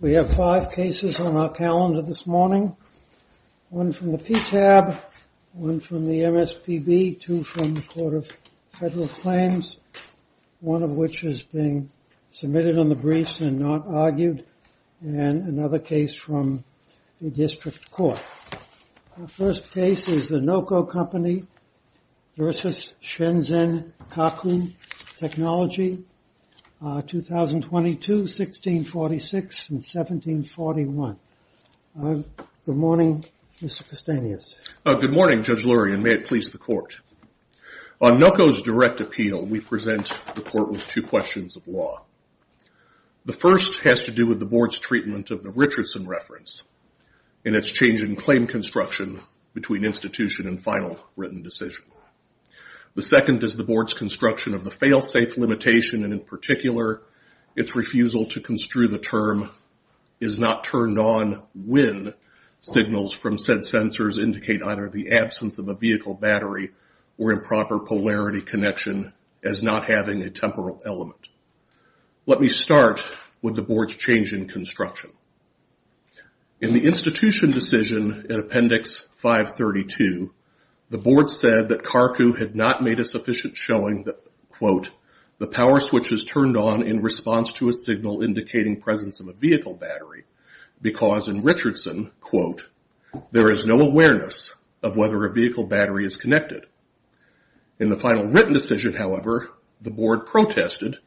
We have five cases on our calendar this morning. One from the PTAB, one from the MSPB, two from the Court of Federal Claims, one of which is being submitted on the briefs and not argued, and another case from the District Court. The first case is the NOCO Company v. Shenzhen Carku Technology, 2022, 1646, and 1741. Good morning, Mr. Kostanius. Good morning, Judge Lurie, and may it please the Court. On NOCO's direct appeal, we present the Court with two questions of law. The first has to do with the Board's treatment of the Richardson reference and its change in claim construction between institution and final written decision. The second is the Board's construction of the fail-safe limitation, and in particular, its refusal to construe the term is not turned on when signals from said sensors indicate either the absence of a vehicle battery or improper polarity connection as not having a temporal element. Let me start with the Board's change in construction. In the institution decision in Appendix 532, the Board said that Carku had not made a sufficient showing that, quote, the power switch is turned on in response to a signal indicating presence of a vehicle battery because in Richardson, quote, there is no awareness of whether a vehicle battery is connected. In the final written decision, however, the Board protested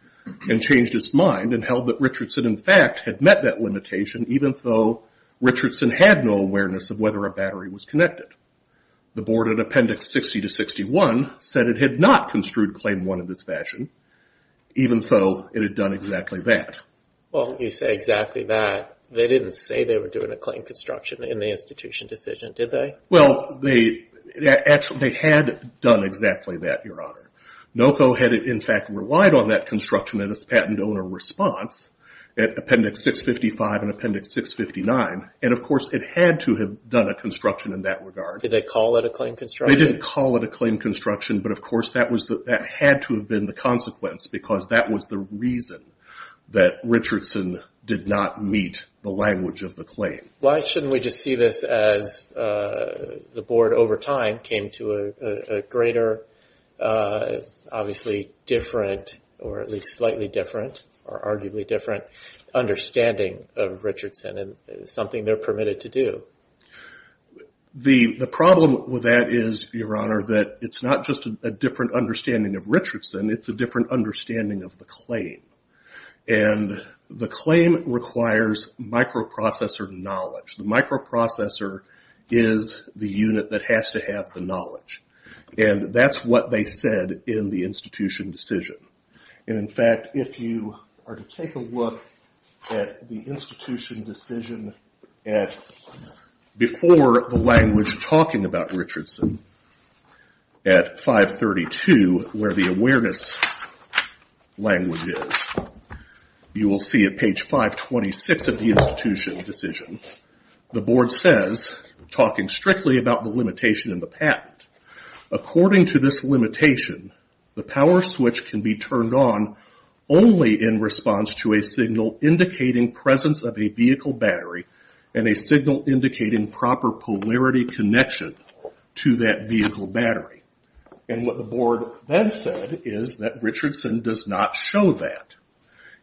and changed its mind and held that Richardson, in fact, had met that limitation even though Richardson had no awareness of whether a battery was connected. The Board in Appendix 60 to 61 said it had not construed Claim 1 in this fashion even though it had done exactly that. Well, you say exactly that. They didn't say they were doing a claim construction in the institution decision, did they? Well, they had done exactly that, Your Honor. NOCO had, in fact, relied on that construction in its patent owner response at Appendix 655 and Appendix 659, and, of course, it had to have done a construction in that regard. Did they call it a claim construction? They didn't call it a claim construction, but, of course, that had to have been the consequence because that was the reason that Richardson did not meet the language of the claim. Why shouldn't we just see this as the Board, over time, came to a greater, obviously different, or at least slightly different or arguably different understanding of Richardson and something they're permitted to do? The problem with that is, Your Honor, that it's not just a different understanding of Richardson, it's a different understanding of the claim. And the claim requires microprocessor knowledge. The microprocessor is the unit that has to have the knowledge. And that's what they said in the institution decision. And, in fact, if you are to take a look at the institution decision before the language talking about Richardson, at 532, where the awareness language is, you will see at page 526 of the institution decision, the Board says, talking strictly about the limitation in the patent, according to this limitation, the power switch can be turned on only in response to a signal indicating presence of a vehicle battery and a signal indicating proper polarity connection to that vehicle battery. And what the Board then said is that Richardson does not show that.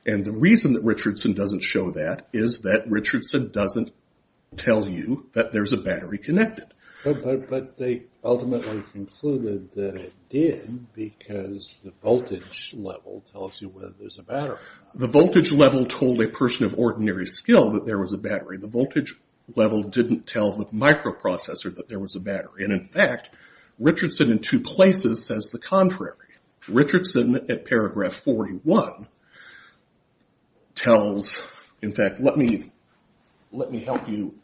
And the reason that Richardson doesn't show that is that Richardson doesn't tell you that there's a battery connected. But they ultimately concluded that it did because the voltage level tells you whether there's a battery. The voltage level told a person of ordinary skill that there was a battery. The voltage level didn't tell the microprocessor that there was a battery. And, in fact, Richardson in two places says the contrary. Richardson at paragraph 41 tells, in fact, let me help you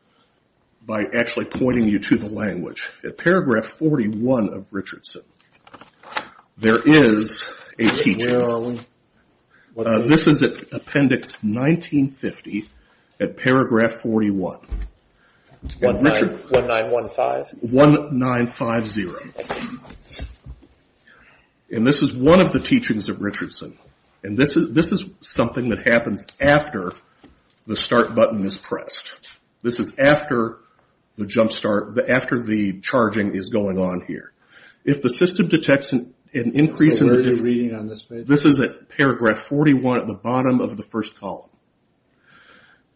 by actually pointing you to the language. At paragraph 41 of Richardson, there is a teaching. Where are we? This is at appendix 1950 at paragraph 41. 1915? 1950. And this is one of the teachings of Richardson. And this is something that happens after the start button is pressed. This is after the charging is going on here. So where are you reading on this page? This is at paragraph 41 at the bottom of the first column.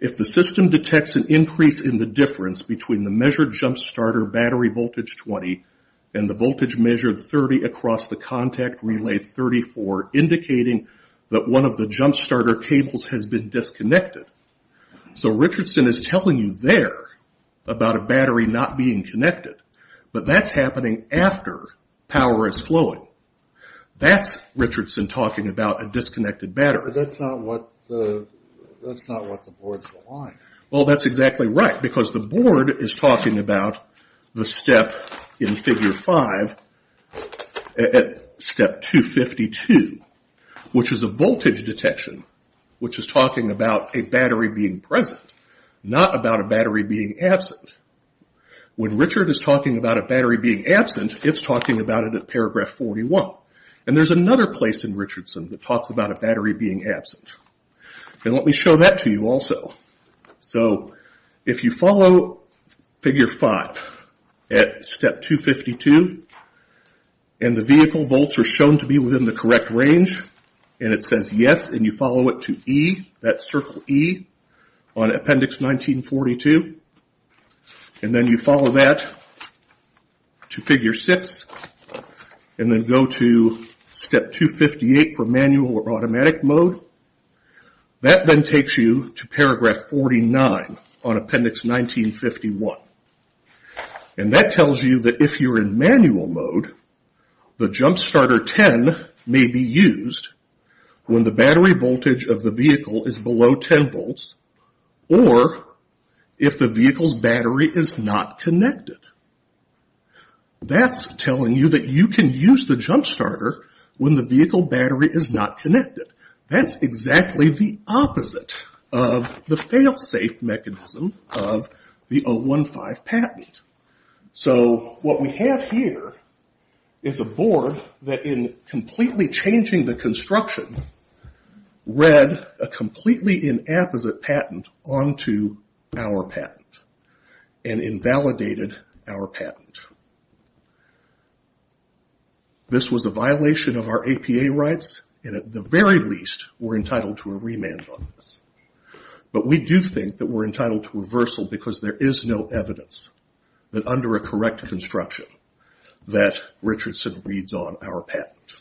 If the system detects an increase in the difference between the measured jump starter battery voltage 20 and the voltage measured 30 across the contact relay 34, indicating that one of the jump starter cables has been disconnected. So Richardson is telling you there about a battery not being connected. But that's happening after power is flowing. That's Richardson talking about a disconnected battery. But that's not what the board is going to find. Well, that's exactly right because the board is talking about the step in figure 5, step 252, which is a voltage detection, which is talking about a battery being present, not about a battery being absent. When Richard is talking about a battery being absent, it's talking about it at paragraph 41. And there's another place in Richardson that talks about a battery being absent. And let me show that to you also. So if you follow figure 5 at step 252 and the vehicle volts are shown to be within the correct range and it says yes and you follow it to E, that circle E on appendix 1942, and then you follow that to figure 6 and then go to step 258 for manual or automatic mode, that then takes you to paragraph 49 on appendix 1951. And that tells you that if you're in manual mode, the jump starter 10 may be used when the battery voltage of the vehicle is below 10 volts or if the vehicle's battery is not connected. That's telling you that you can use the jump starter when the vehicle battery is not connected. That's exactly the opposite of the failsafe mechanism of the 015 patent. So what we have here is a board that in completely changing the construction read a completely inapposite patent onto our patent and invalidated our patent. This was a violation of our APA rights and at the very least we're entitled to a remand on this. But we do think that we're entitled to reversal because there is no evidence that under a correct construction that Richardson reads on our patent.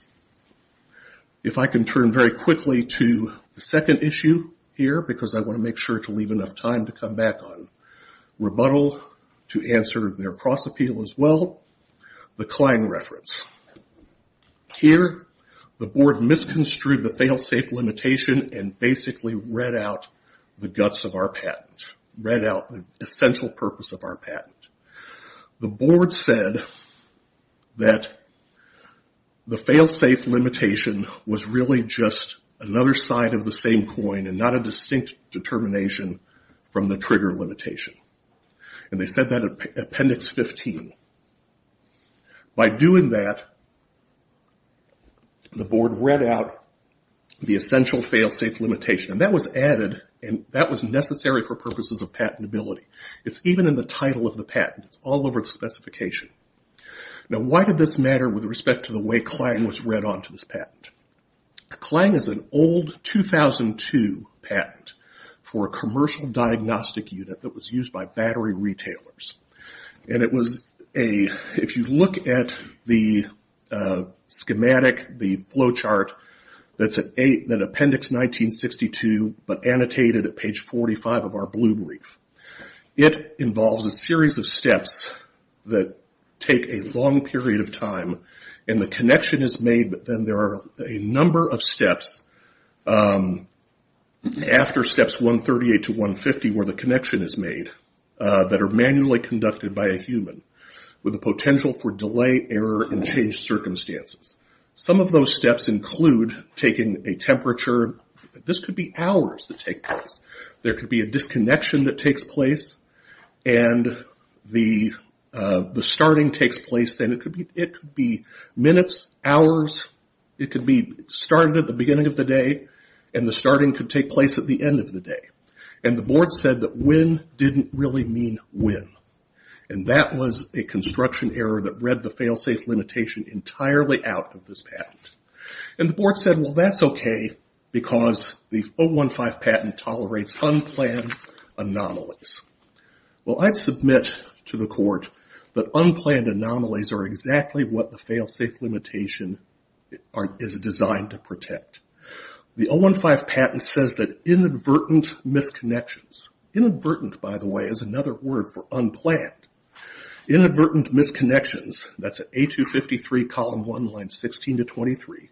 If I can turn very quickly to the second issue here because I want to make sure to leave enough time to come back on, rebuttal to answer their cross-appeal as well, the Klang reference. Here the board misconstrued the failsafe limitation and basically read out the guts of our patent, read out the essential purpose of our patent. The board said that the failsafe limitation was really just another side of the same coin and not a distinct determination from the trigger limitation. They said that in Appendix 15. By doing that, the board read out the essential failsafe limitation. That was added and that was necessary for purposes of patentability. It's even in the title of the patent. It's all over the specification. Why did this matter with respect to the way Klang was read onto this patent? Klang is an old 2002 patent for a commercial diagnostic unit that was used by battery retailers. If you look at the schematic, the flow chart that's in Appendix 1962 but annotated at page 45 of our blue brief, it involves a series of steps that take a long period of time and the connection is made, but then there are a number of steps after steps 138 to 150 where the connection is made that are manually conducted by a human with the potential for delay, error, and changed circumstances. Some of those steps include taking a temperature. This could be hours that take place. There could be a disconnection that takes place and the starting takes place. It could be minutes, hours. It could be started at the beginning of the day and the starting could take place at the end of the day. The board said that when didn't really mean when. That was a construction error that read the failsafe limitation entirely out of this patent. The board said, well, that's okay because the 015 patent tolerates unplanned anomalies. Well, I'd submit to the court that unplanned anomalies are exactly what the failsafe limitation is designed to protect. The 015 patent says that inadvertent misconnections. Inadvertent, by the way, is another word for unplanned. Inadvertent misconnections, that's at A253, column 1, line 16 to 23.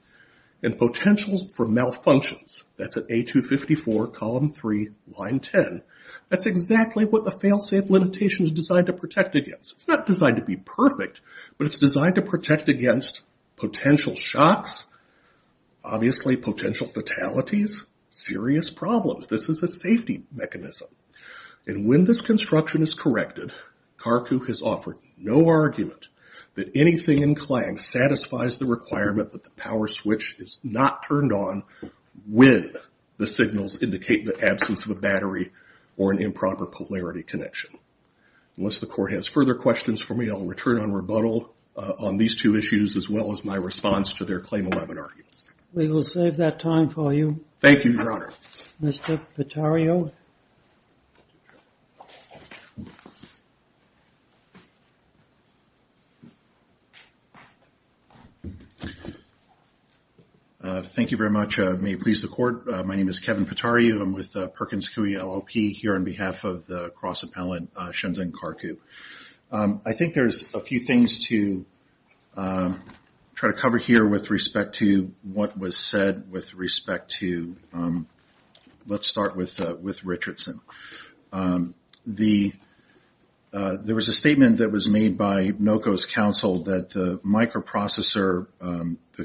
Potential for malfunctions, that's at A254, column 3, line 10. That's exactly what the failsafe limitation is designed to protect against. It's not designed to be perfect, but it's designed to protect against potential shocks, obviously potential fatalities, serious problems. This is a safety mechanism. When this construction is corrected, CARCU has offered no argument that anything in CLAGS satisfies the requirement that the power switch is not turned on when the signals indicate the absence of a battery or an improper polarity connection. Unless the court has further questions for me, I'll return on rebuttal on these two issues as well as my response to their Claim 11 arguments. We will save that time for you. Thank you, Your Honor. Mr. Pettario? Thank you very much. May it please the Court, my name is Kevin Pettario. I'm with Perkins Coie LLP here on behalf of the cross-appellant Shenzhen CARCU. I think there's a few things to try to cover here with respect to what was said with respect to, let's start with Richardson. There was a statement that was made by NOCO's counsel that the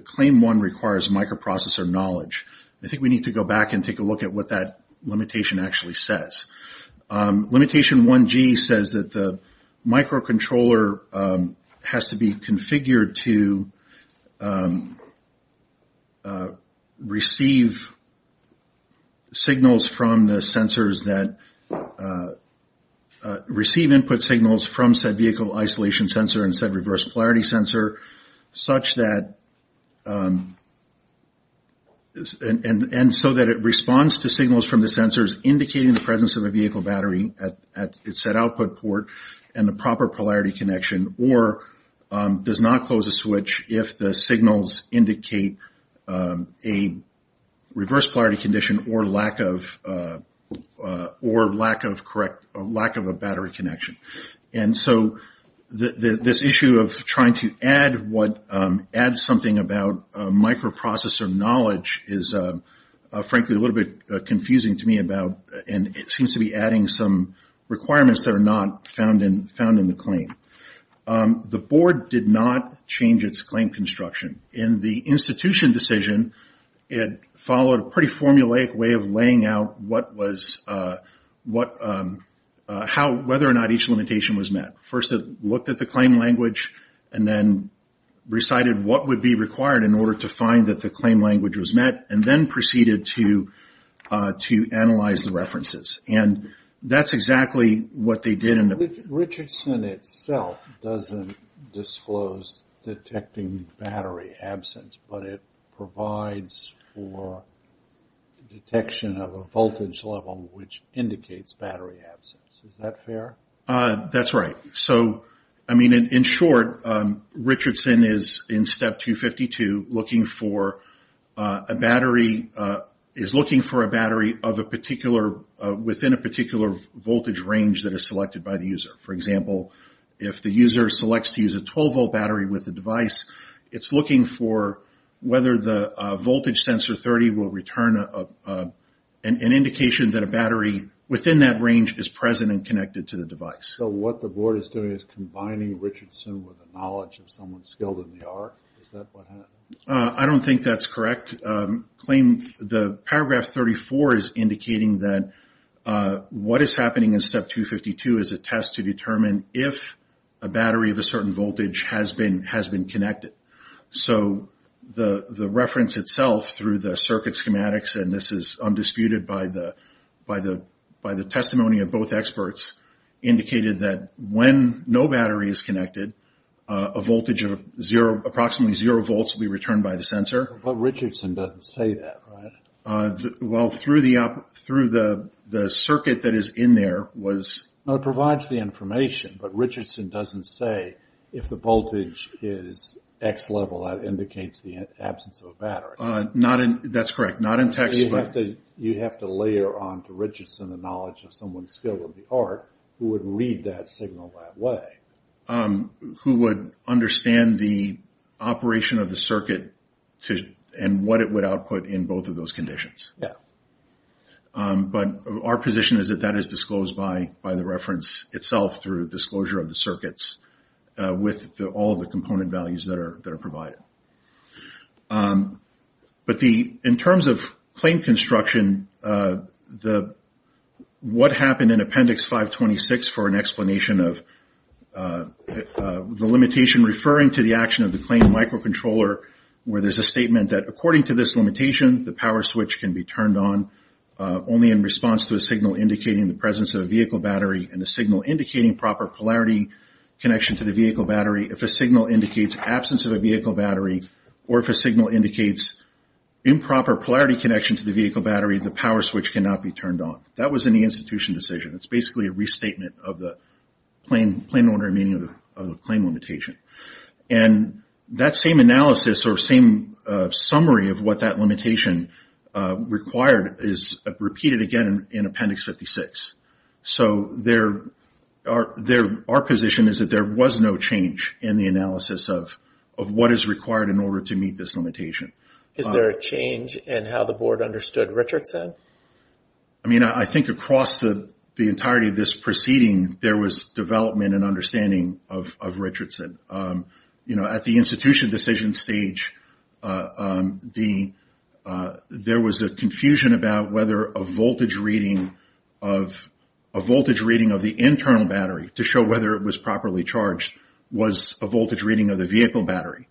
claim one requires microprocessor knowledge. I think we need to go back and take a look at what that limitation actually says. Limitation 1G says that the microcontroller has to be configured to receive signals from the sensors that, receive input signals from said vehicle isolation sensor and said reverse polarity sensor such that, and so that it responds to signals from the sensors indicating the presence of a vehicle battery at its said output port and the proper polarity connection or does not close a switch if the signals indicate a reverse polarity condition or lack of, or lack of correct, lack of a battery connection. And so this issue of trying to add what, add something about microprocessor knowledge is frankly a little bit confusing to me about and it seems to be adding some requirements that are not found in the claim. The board did not change its claim construction. In the institution decision, it followed a pretty formulaic way of laying out what was, what, how, whether or not each limitation was met. First it looked at the claim language and then recited what would be required in order to find that the claim language was met and then proceeded to analyze the references. And that's exactly what they did in the... Richardson itself doesn't disclose detecting battery absence but it provides for detection of a voltage level which indicates battery absence. Is that fair? That's right. So, I mean, in short, Richardson is in step 252 looking for a battery, is looking for a battery of a particular, within a particular voltage range that is selected by the user. For example, if the user selects to use a 12-volt battery with the device, it's looking for whether the voltage sensor 30 will return an indication that a battery within that range is present and connected to the device. So what the board is doing is combining Richardson with the knowledge of someone skilled in the arc. Is that what happened? I don't think that's correct. Claim, the paragraph 34 is indicating that what is happening in step 252 is a test to determine if a battery of a certain voltage has been connected. So the reference itself through the circuit schematics, and this is undisputed by the testimony of both experts, indicated that when no battery is connected, a voltage of approximately zero volts will be returned by the sensor. But Richardson doesn't say that, right? Well, through the circuit that is in there was... No, it provides the information, but Richardson doesn't say if the voltage is X level, that indicates the absence of a battery. That's correct. Not in text, but... You'd have to layer on to Richardson the knowledge of someone skilled in the arc who would read that signal that way. Who would understand the operation of the circuit and what it would output in both of those conditions. Yeah. But our position is that that is disclosed by the reference itself through disclosure of the circuits with all the component values that are provided. But in terms of claim construction, what happened in Appendix 526 for an explanation of the limitation referring to the action of the claim microcontroller where there's a statement that according to this limitation, the power switch can be turned on only in response to a signal indicating the presence of a vehicle battery and a signal indicating proper polarity connection to the vehicle battery. If a signal indicates absence of a vehicle battery or if a signal indicates improper polarity connection to the vehicle battery, the power switch cannot be turned on. That was an institution decision. It's basically a restatement of the plain order meaning of the claim limitation. And that same analysis or same summary of what that limitation required is repeated again in Appendix 526. So our position is that there was no change in the analysis of what is required in order to meet this limitation. Is there a change in how the board understood Richardson? I mean, I think across the entirety of this proceeding, there was development and understanding of Richardson. At the institution decision stage, there was a confusion about whether a voltage reading of the internal battery to show whether it was properly charged was a voltage reading of the vehicle battery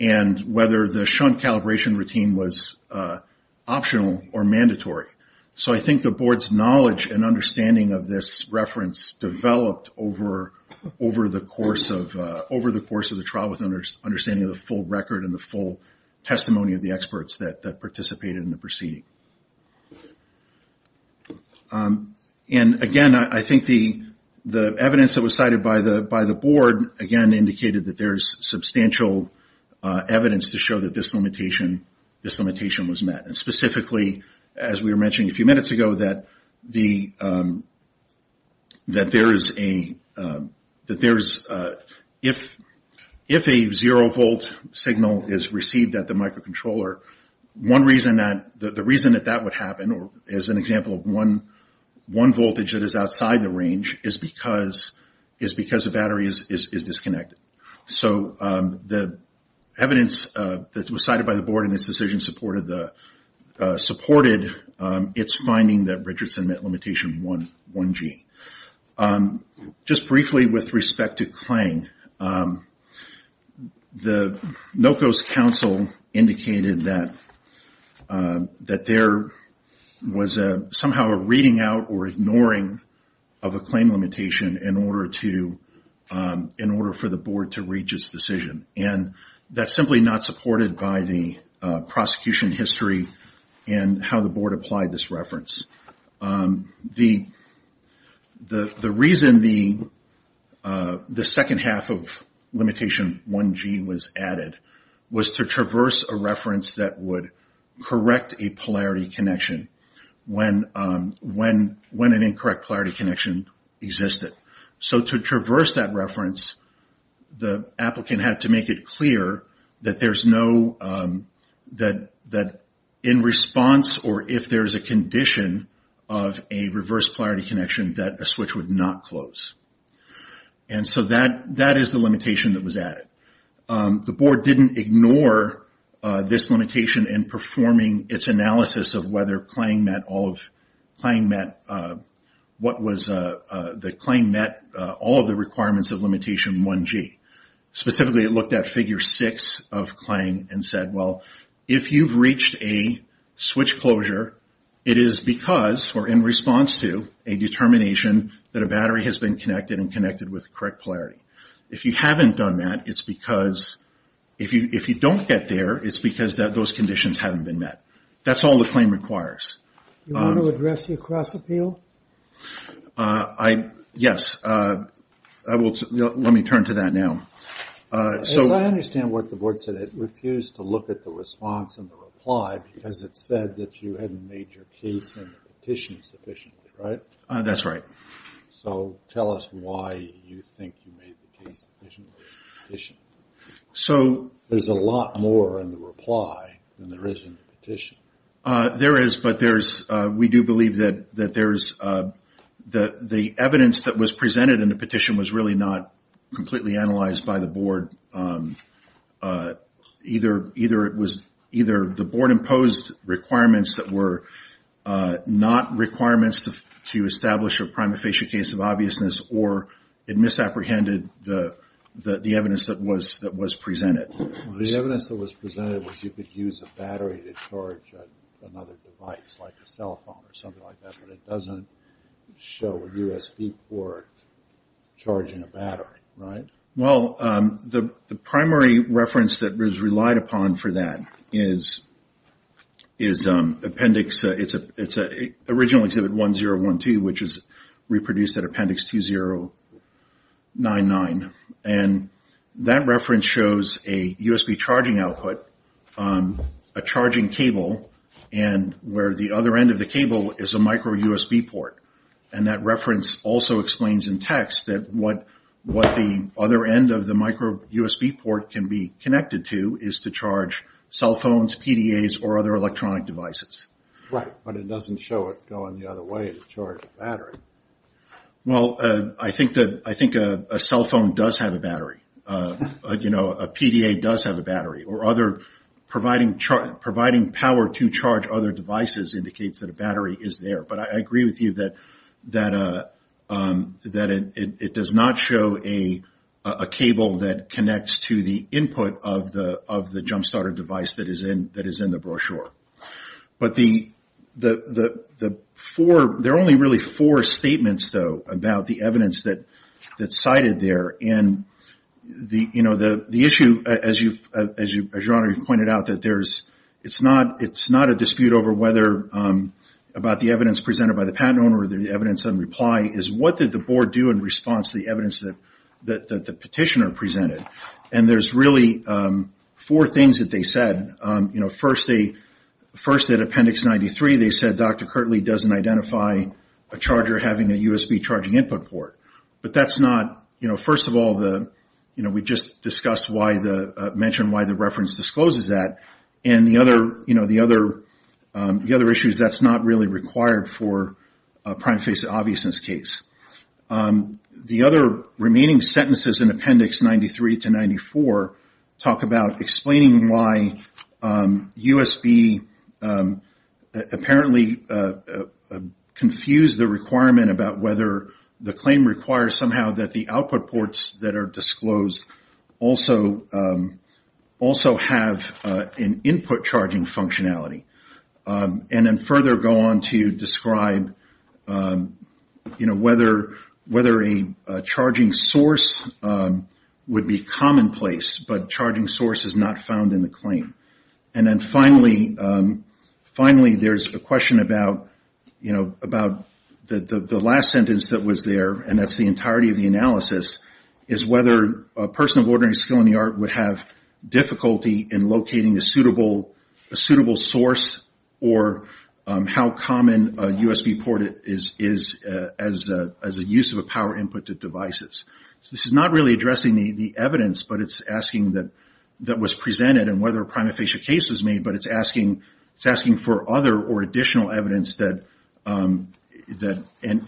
and whether the shunt calibration routine was optional or mandatory. So I think the board's knowledge and understanding of this reference developed over the course of the trial with understanding of the full record and the full testimony of the experts that participated in the proceeding. And, again, I think the evidence that was cited by the board, again, indicated that there's substantial evidence to show that this limitation was met. And specifically, as we were mentioning a few minutes ago, that if a zero-volt signal is received at the microcontroller, the reason that that would happen is an example of one voltage that is outside the range is because the battery is disconnected. So the evidence that was cited by the board in this decision supported its finding that Richardson met limitation 1G. Just briefly with respect to claim, the NOCO's counsel indicated that there was somehow a reading out or ignoring of a claim limitation in order for the board to reach its decision. And that's simply not supported by the prosecution history and how the board applied this reference. The reason the second half of limitation 1G was added was to traverse a reference that would correct a polarity connection when an incorrect polarity connection existed. So to traverse that reference, the applicant had to make it clear that in response or if there's a condition of a reverse polarity connection that a switch would not close. And so that is the limitation that was added. The board didn't ignore this limitation in performing its analysis of whether the claim met all of the requirements of limitation 1G. Specifically, it looked at figure six of claim and said, well, if you've reached a switch closure, it is because or in response to a determination that a battery has been connected and connected with correct polarity. If you haven't done that, it's because if you don't get there, it's because those conditions haven't been met. That's all the claim requires. Yes. Let me turn to that now. I understand what the board said. It refused to look at the response and the reply because it said that you hadn't made your case in the petition sufficiently, right? That's right. So tell us why you think you made the case sufficiently in the petition. There's a lot more in the reply than there is in the petition. There is, but we do believe that the evidence that was presented in the petition was really not completely analyzed by the board. Either the board imposed requirements that were not requirements to establish a prima facie case of obviousness, or it misapprehended the evidence that was presented. The evidence that was presented was you could use a battery to charge another device, like a cell phone or something like that, but it doesn't show a USB port charging a battery, right? Well, the primary reference that was relied upon for that is appendix, it's originally exhibit 1012, which is reproduced at appendix 2099, and that reference shows a USB charging output, a charging cable, and where the other end of the cable is a micro USB port, and that reference also explains in text that what the other end of the micro USB port can be connected to is to charge cell phones, PDAs, or other electronic devices. Right, but it doesn't show it going the other way to charge a battery. Well, I think a cell phone does have a battery. You know, a PDA does have a battery, or other providing power to charge other devices indicates that a battery is there, but I agree with you that it does not show a cable that connects to the input of the jump starter device that is in the brochure. But the four, there are only really four statements, though, about the evidence that's cited there, and the issue, as your Honor pointed out, that it's not a dispute over whether, about the evidence presented by the patent owner or the evidence in reply, is what did the board do in response to the evidence that the petitioner presented? And there's really four things that they said. First, at appendix 93, they said Dr. Kirtley doesn't identify a charger having a USB charging input port, but that's not, you know, first of all, we just discussed why the, mentioned why the reference discloses that, and the other issue is that's not really required for a prime face of obviousness case. The other remaining sentences in appendix 93 to 94 talk about explaining why and about whether the claim requires somehow that the output ports that are disclosed also have an input charging functionality. And then further go on to describe, you know, whether a charging source would be commonplace, but charging source is not found in the claim. And then finally, there's a question about, you know, about the last sentence that was there, and that's the entirety of the analysis, is whether a person of ordinary skill in the art would have difficulty in locating a suitable source, or how common a USB port is as a use of a power input to devices. So this is not really addressing the evidence, but it's asking that was presented and whether a prima facie case was made, but it's asking for other or additional evidence that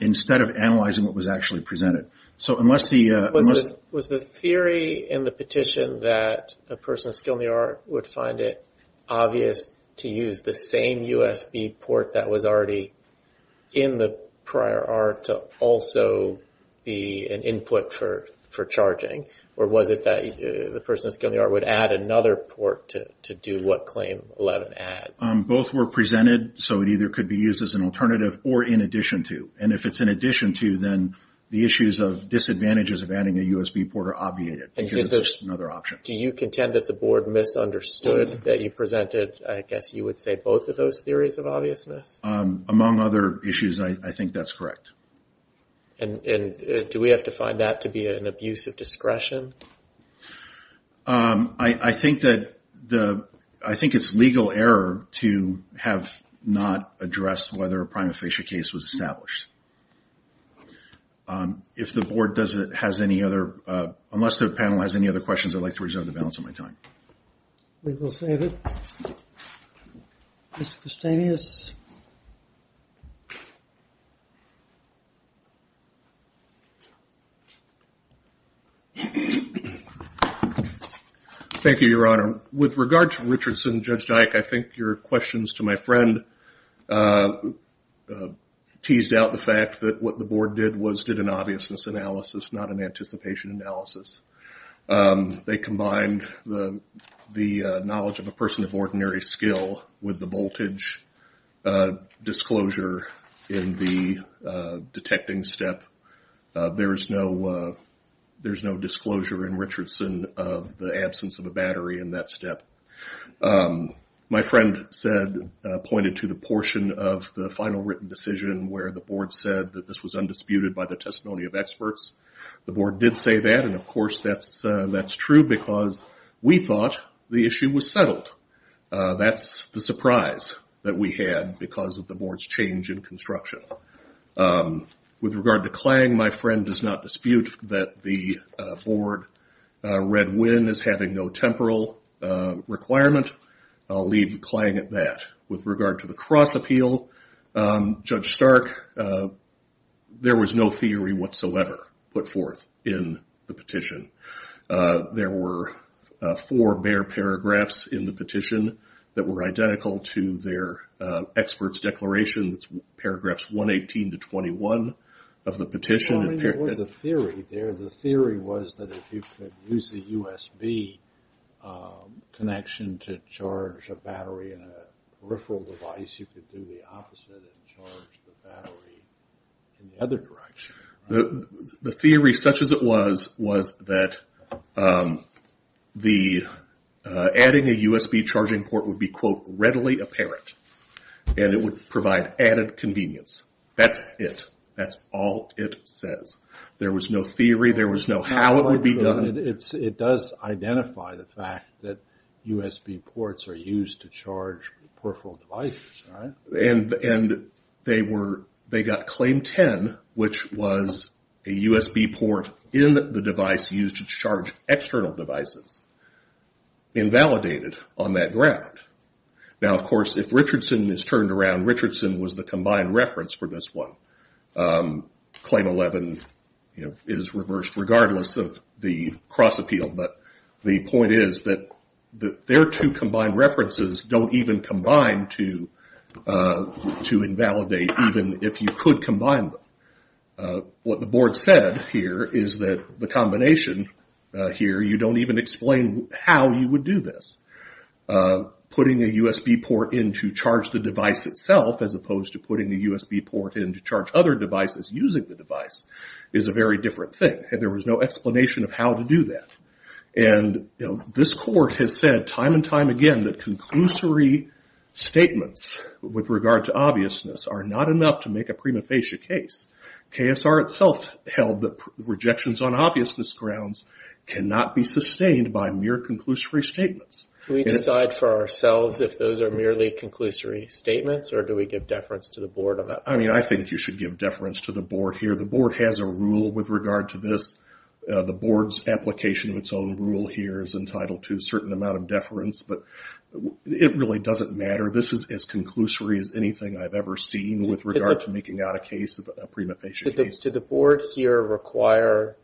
instead of analyzing what was actually presented. So unless the... Was the theory in the petition that a person of skill in the art would find it obvious to use the same USB port that was already in the prior art to also be an input for charging? Or was it that the person of skill in the art would add another port to do what claim 11 adds? Both were presented, so it either could be used as an alternative or in addition to. And if it's in addition to, then the issues of disadvantages of adding a USB port are obviated, because it's another option. Do you contend that the board misunderstood that you presented, I guess you would say, both of those theories of obviousness? Among other issues, I think that's correct. And do we have to find that to be an abuse of discretion? I think it's legal error to have not addressed whether a prima facie case was established. If the board has any other... Unless the panel has any other questions, I'd like to reserve the balance of my time. We will save it. Thank you, Your Honor. With regard to Richardson, Judge Dyck, I think your questions to my friend teased out the fact that what the board did was did an obviousness analysis, not an anticipation analysis. They combined the knowledge of a person of ordinary skill with the voltage disclosure in the detecting step. There's no disclosure in Richardson of the absence of a battery in that step. My friend pointed to the portion of the final written decision where the board said that this was undisputed by the testimony of experts. The board did say that, and of course that's true, because we thought the issue was settled. That's the surprise that we had because of the board's change in construction. With regard to Klang, my friend does not dispute that the board read when as having no temporal requirement. I'll leave Klang at that. With regard to the cross appeal, Judge Stark, there was no theory whatsoever put forth in the petition. There were four bare paragraphs in the petition that were identical to their expert's declaration. It's paragraphs 118 to 21 of the petition. The theory was that if you could use the USB connection to charge a battery in a peripheral device, you could do the opposite and charge the battery in the other direction. The theory, such as it was, was that the adding a USB charging port would be quote, readily apparent, and it would provide added convenience. That's it. That's all it says. There was no theory. There was no how it would be done. It does identify the fact that USB ports are used to charge external devices. Invalidated on that ground. Now, of course, if Richardson is turned around, Richardson was the combined reference for this one. Claim 11 is reversed regardless of the cross appeal, but the point is that their two combined references don't even combine to invalidate even if you could combine them. What the board said here is that the combination here, you don't even explain how you would do this. Putting a USB port in to charge the device itself as opposed to putting a USB port in to charge other devices using the device is a very different thing. There was no explanation of how to Conclusory statements with regard to obviousness are not enough to make a prima facie case. KSR itself held that rejections on obviousness grounds cannot be sustained by mere conclusory statements. Do we decide for ourselves if those are merely conclusory statements or do we give deference to the board? I think you should give deference to the board here. The board has a rule with regard to this. The board's application of its own rule here is entitled to a certain amount of deference, but it really doesn't matter. This is as conclusory as anything I've ever seen with regard to making out a case, a prima facie case. Did the board here require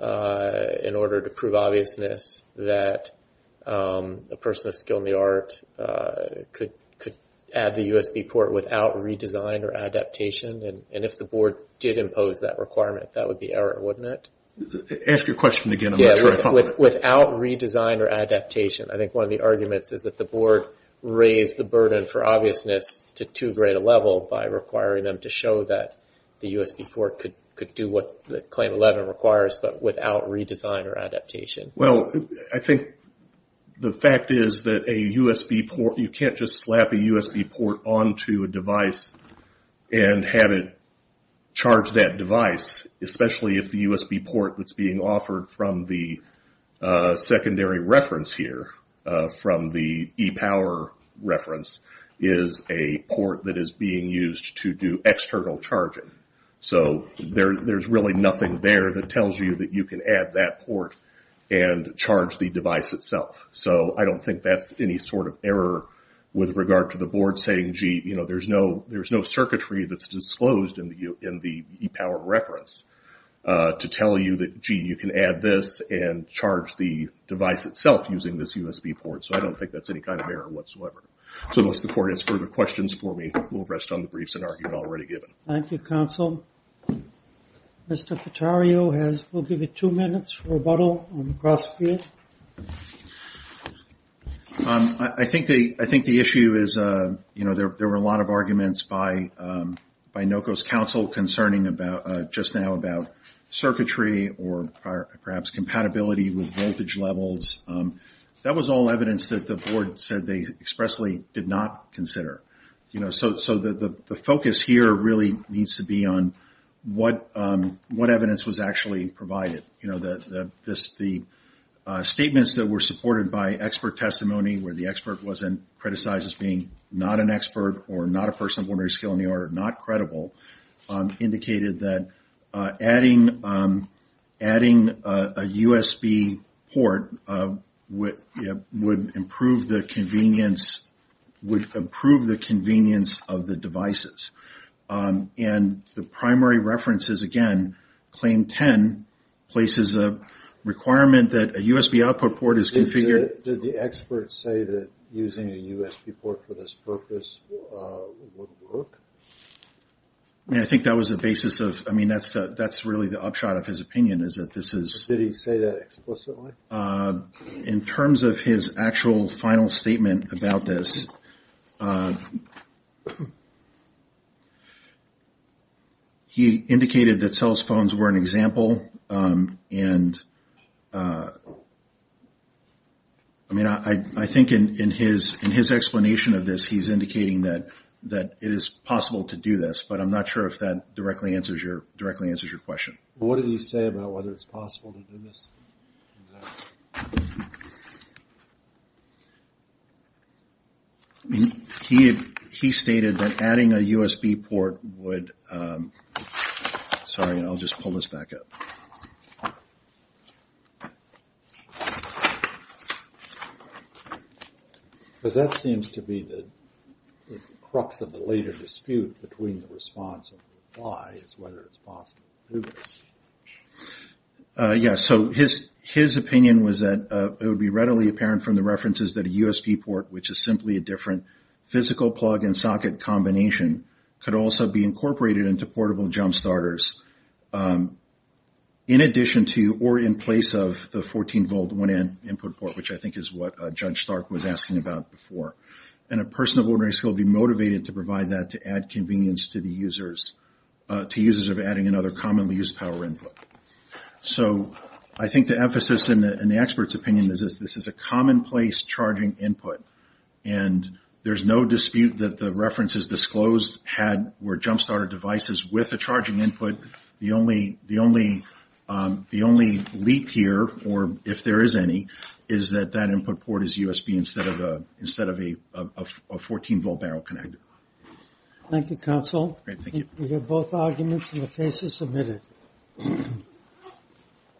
in order to prove obviousness that a person with a skill in the art could add the USB port without redesign or adaptation? If the board did impose that requirement, that would be error, wouldn't it? Ask your question again. Without redesign or adaptation. I think one of the arguments is that the board raised the burden for obviousness to too great a level by requiring them to show that the USB port could do what the Claim 11 requires, but without redesign or adaptation. Well, I think the fact is that you can't just slap a USB port onto a device and have it charge that device, especially if the USB port that's being offered from the secondary reference here, from the ePower reference, is a port that is being used to do external charging. So there's really nothing there that tells you that you can add that port and charge the device itself. So I don't think that's any sort of error with regard to the board saying, gee, there's no circuitry that's disclosed in the ePower reference to tell you that, gee, you can add this and charge the device itself using this USB port. So I don't think that's any kind of error whatsoever. So unless the court has further questions for me, we'll rest on the briefs that are already given. Thank you, counsel. Mr. Cotario will give you two minutes for rebuttal on the cross field. I think the issue is, you know, there were a lot of arguments by NOCO's counsel concerning just now about circuitry or perhaps compatibility with voltage levels. That was all evidence that the board said they expressly did not consider. So the focus here really needs to be on what evidence was actually provided. The statements that were supported by expert testimony where the expert was criticized as being not an expert or not a person of ordinary skill in the art, not credible, indicated that adding a USB port would improve the convenience of the devices. And the primary references, again, Claim 10 places a requirement that a USB output port is configured... Did the experts say that using a USB port for this purpose would work? I mean, I think that was the basis of... I mean, that's really the upshot of his opinion is that this is... Did he say that explicitly? In terms of his actual final statement about this, he indicated that cell phones were an example and I mean, I think it's possible to do this, but I'm not sure if that directly answers your question. What did he say about whether it's possible to do this? He stated that adding a USB port would... Sorry, I'll just pull this back up. Because that seems to be the crux of the later dispute between the response and the reply is whether it's possible to do this. Yeah, so his opinion was that it would be readily apparent from the references that a USB port, which is simply a different physical plug and socket combination, could also be incorporated into portable jump starters in addition to or in place of the 14-volt 1N input port, which I think is what Judge Stark was asking about before. And a person of ordinary skill would be motivated to provide that to add convenience to the users of adding another commonly used power input. So I think the emphasis in the expert's opinion is this is a commonplace charging input and there's no dispute that the references disclosed were jump starter devices with a charging input. The only leap here, or if there is any, is that that input port is USB instead of a 14-volt barrel connector. Thank you, Counsel. We have both arguments and the case is submitted.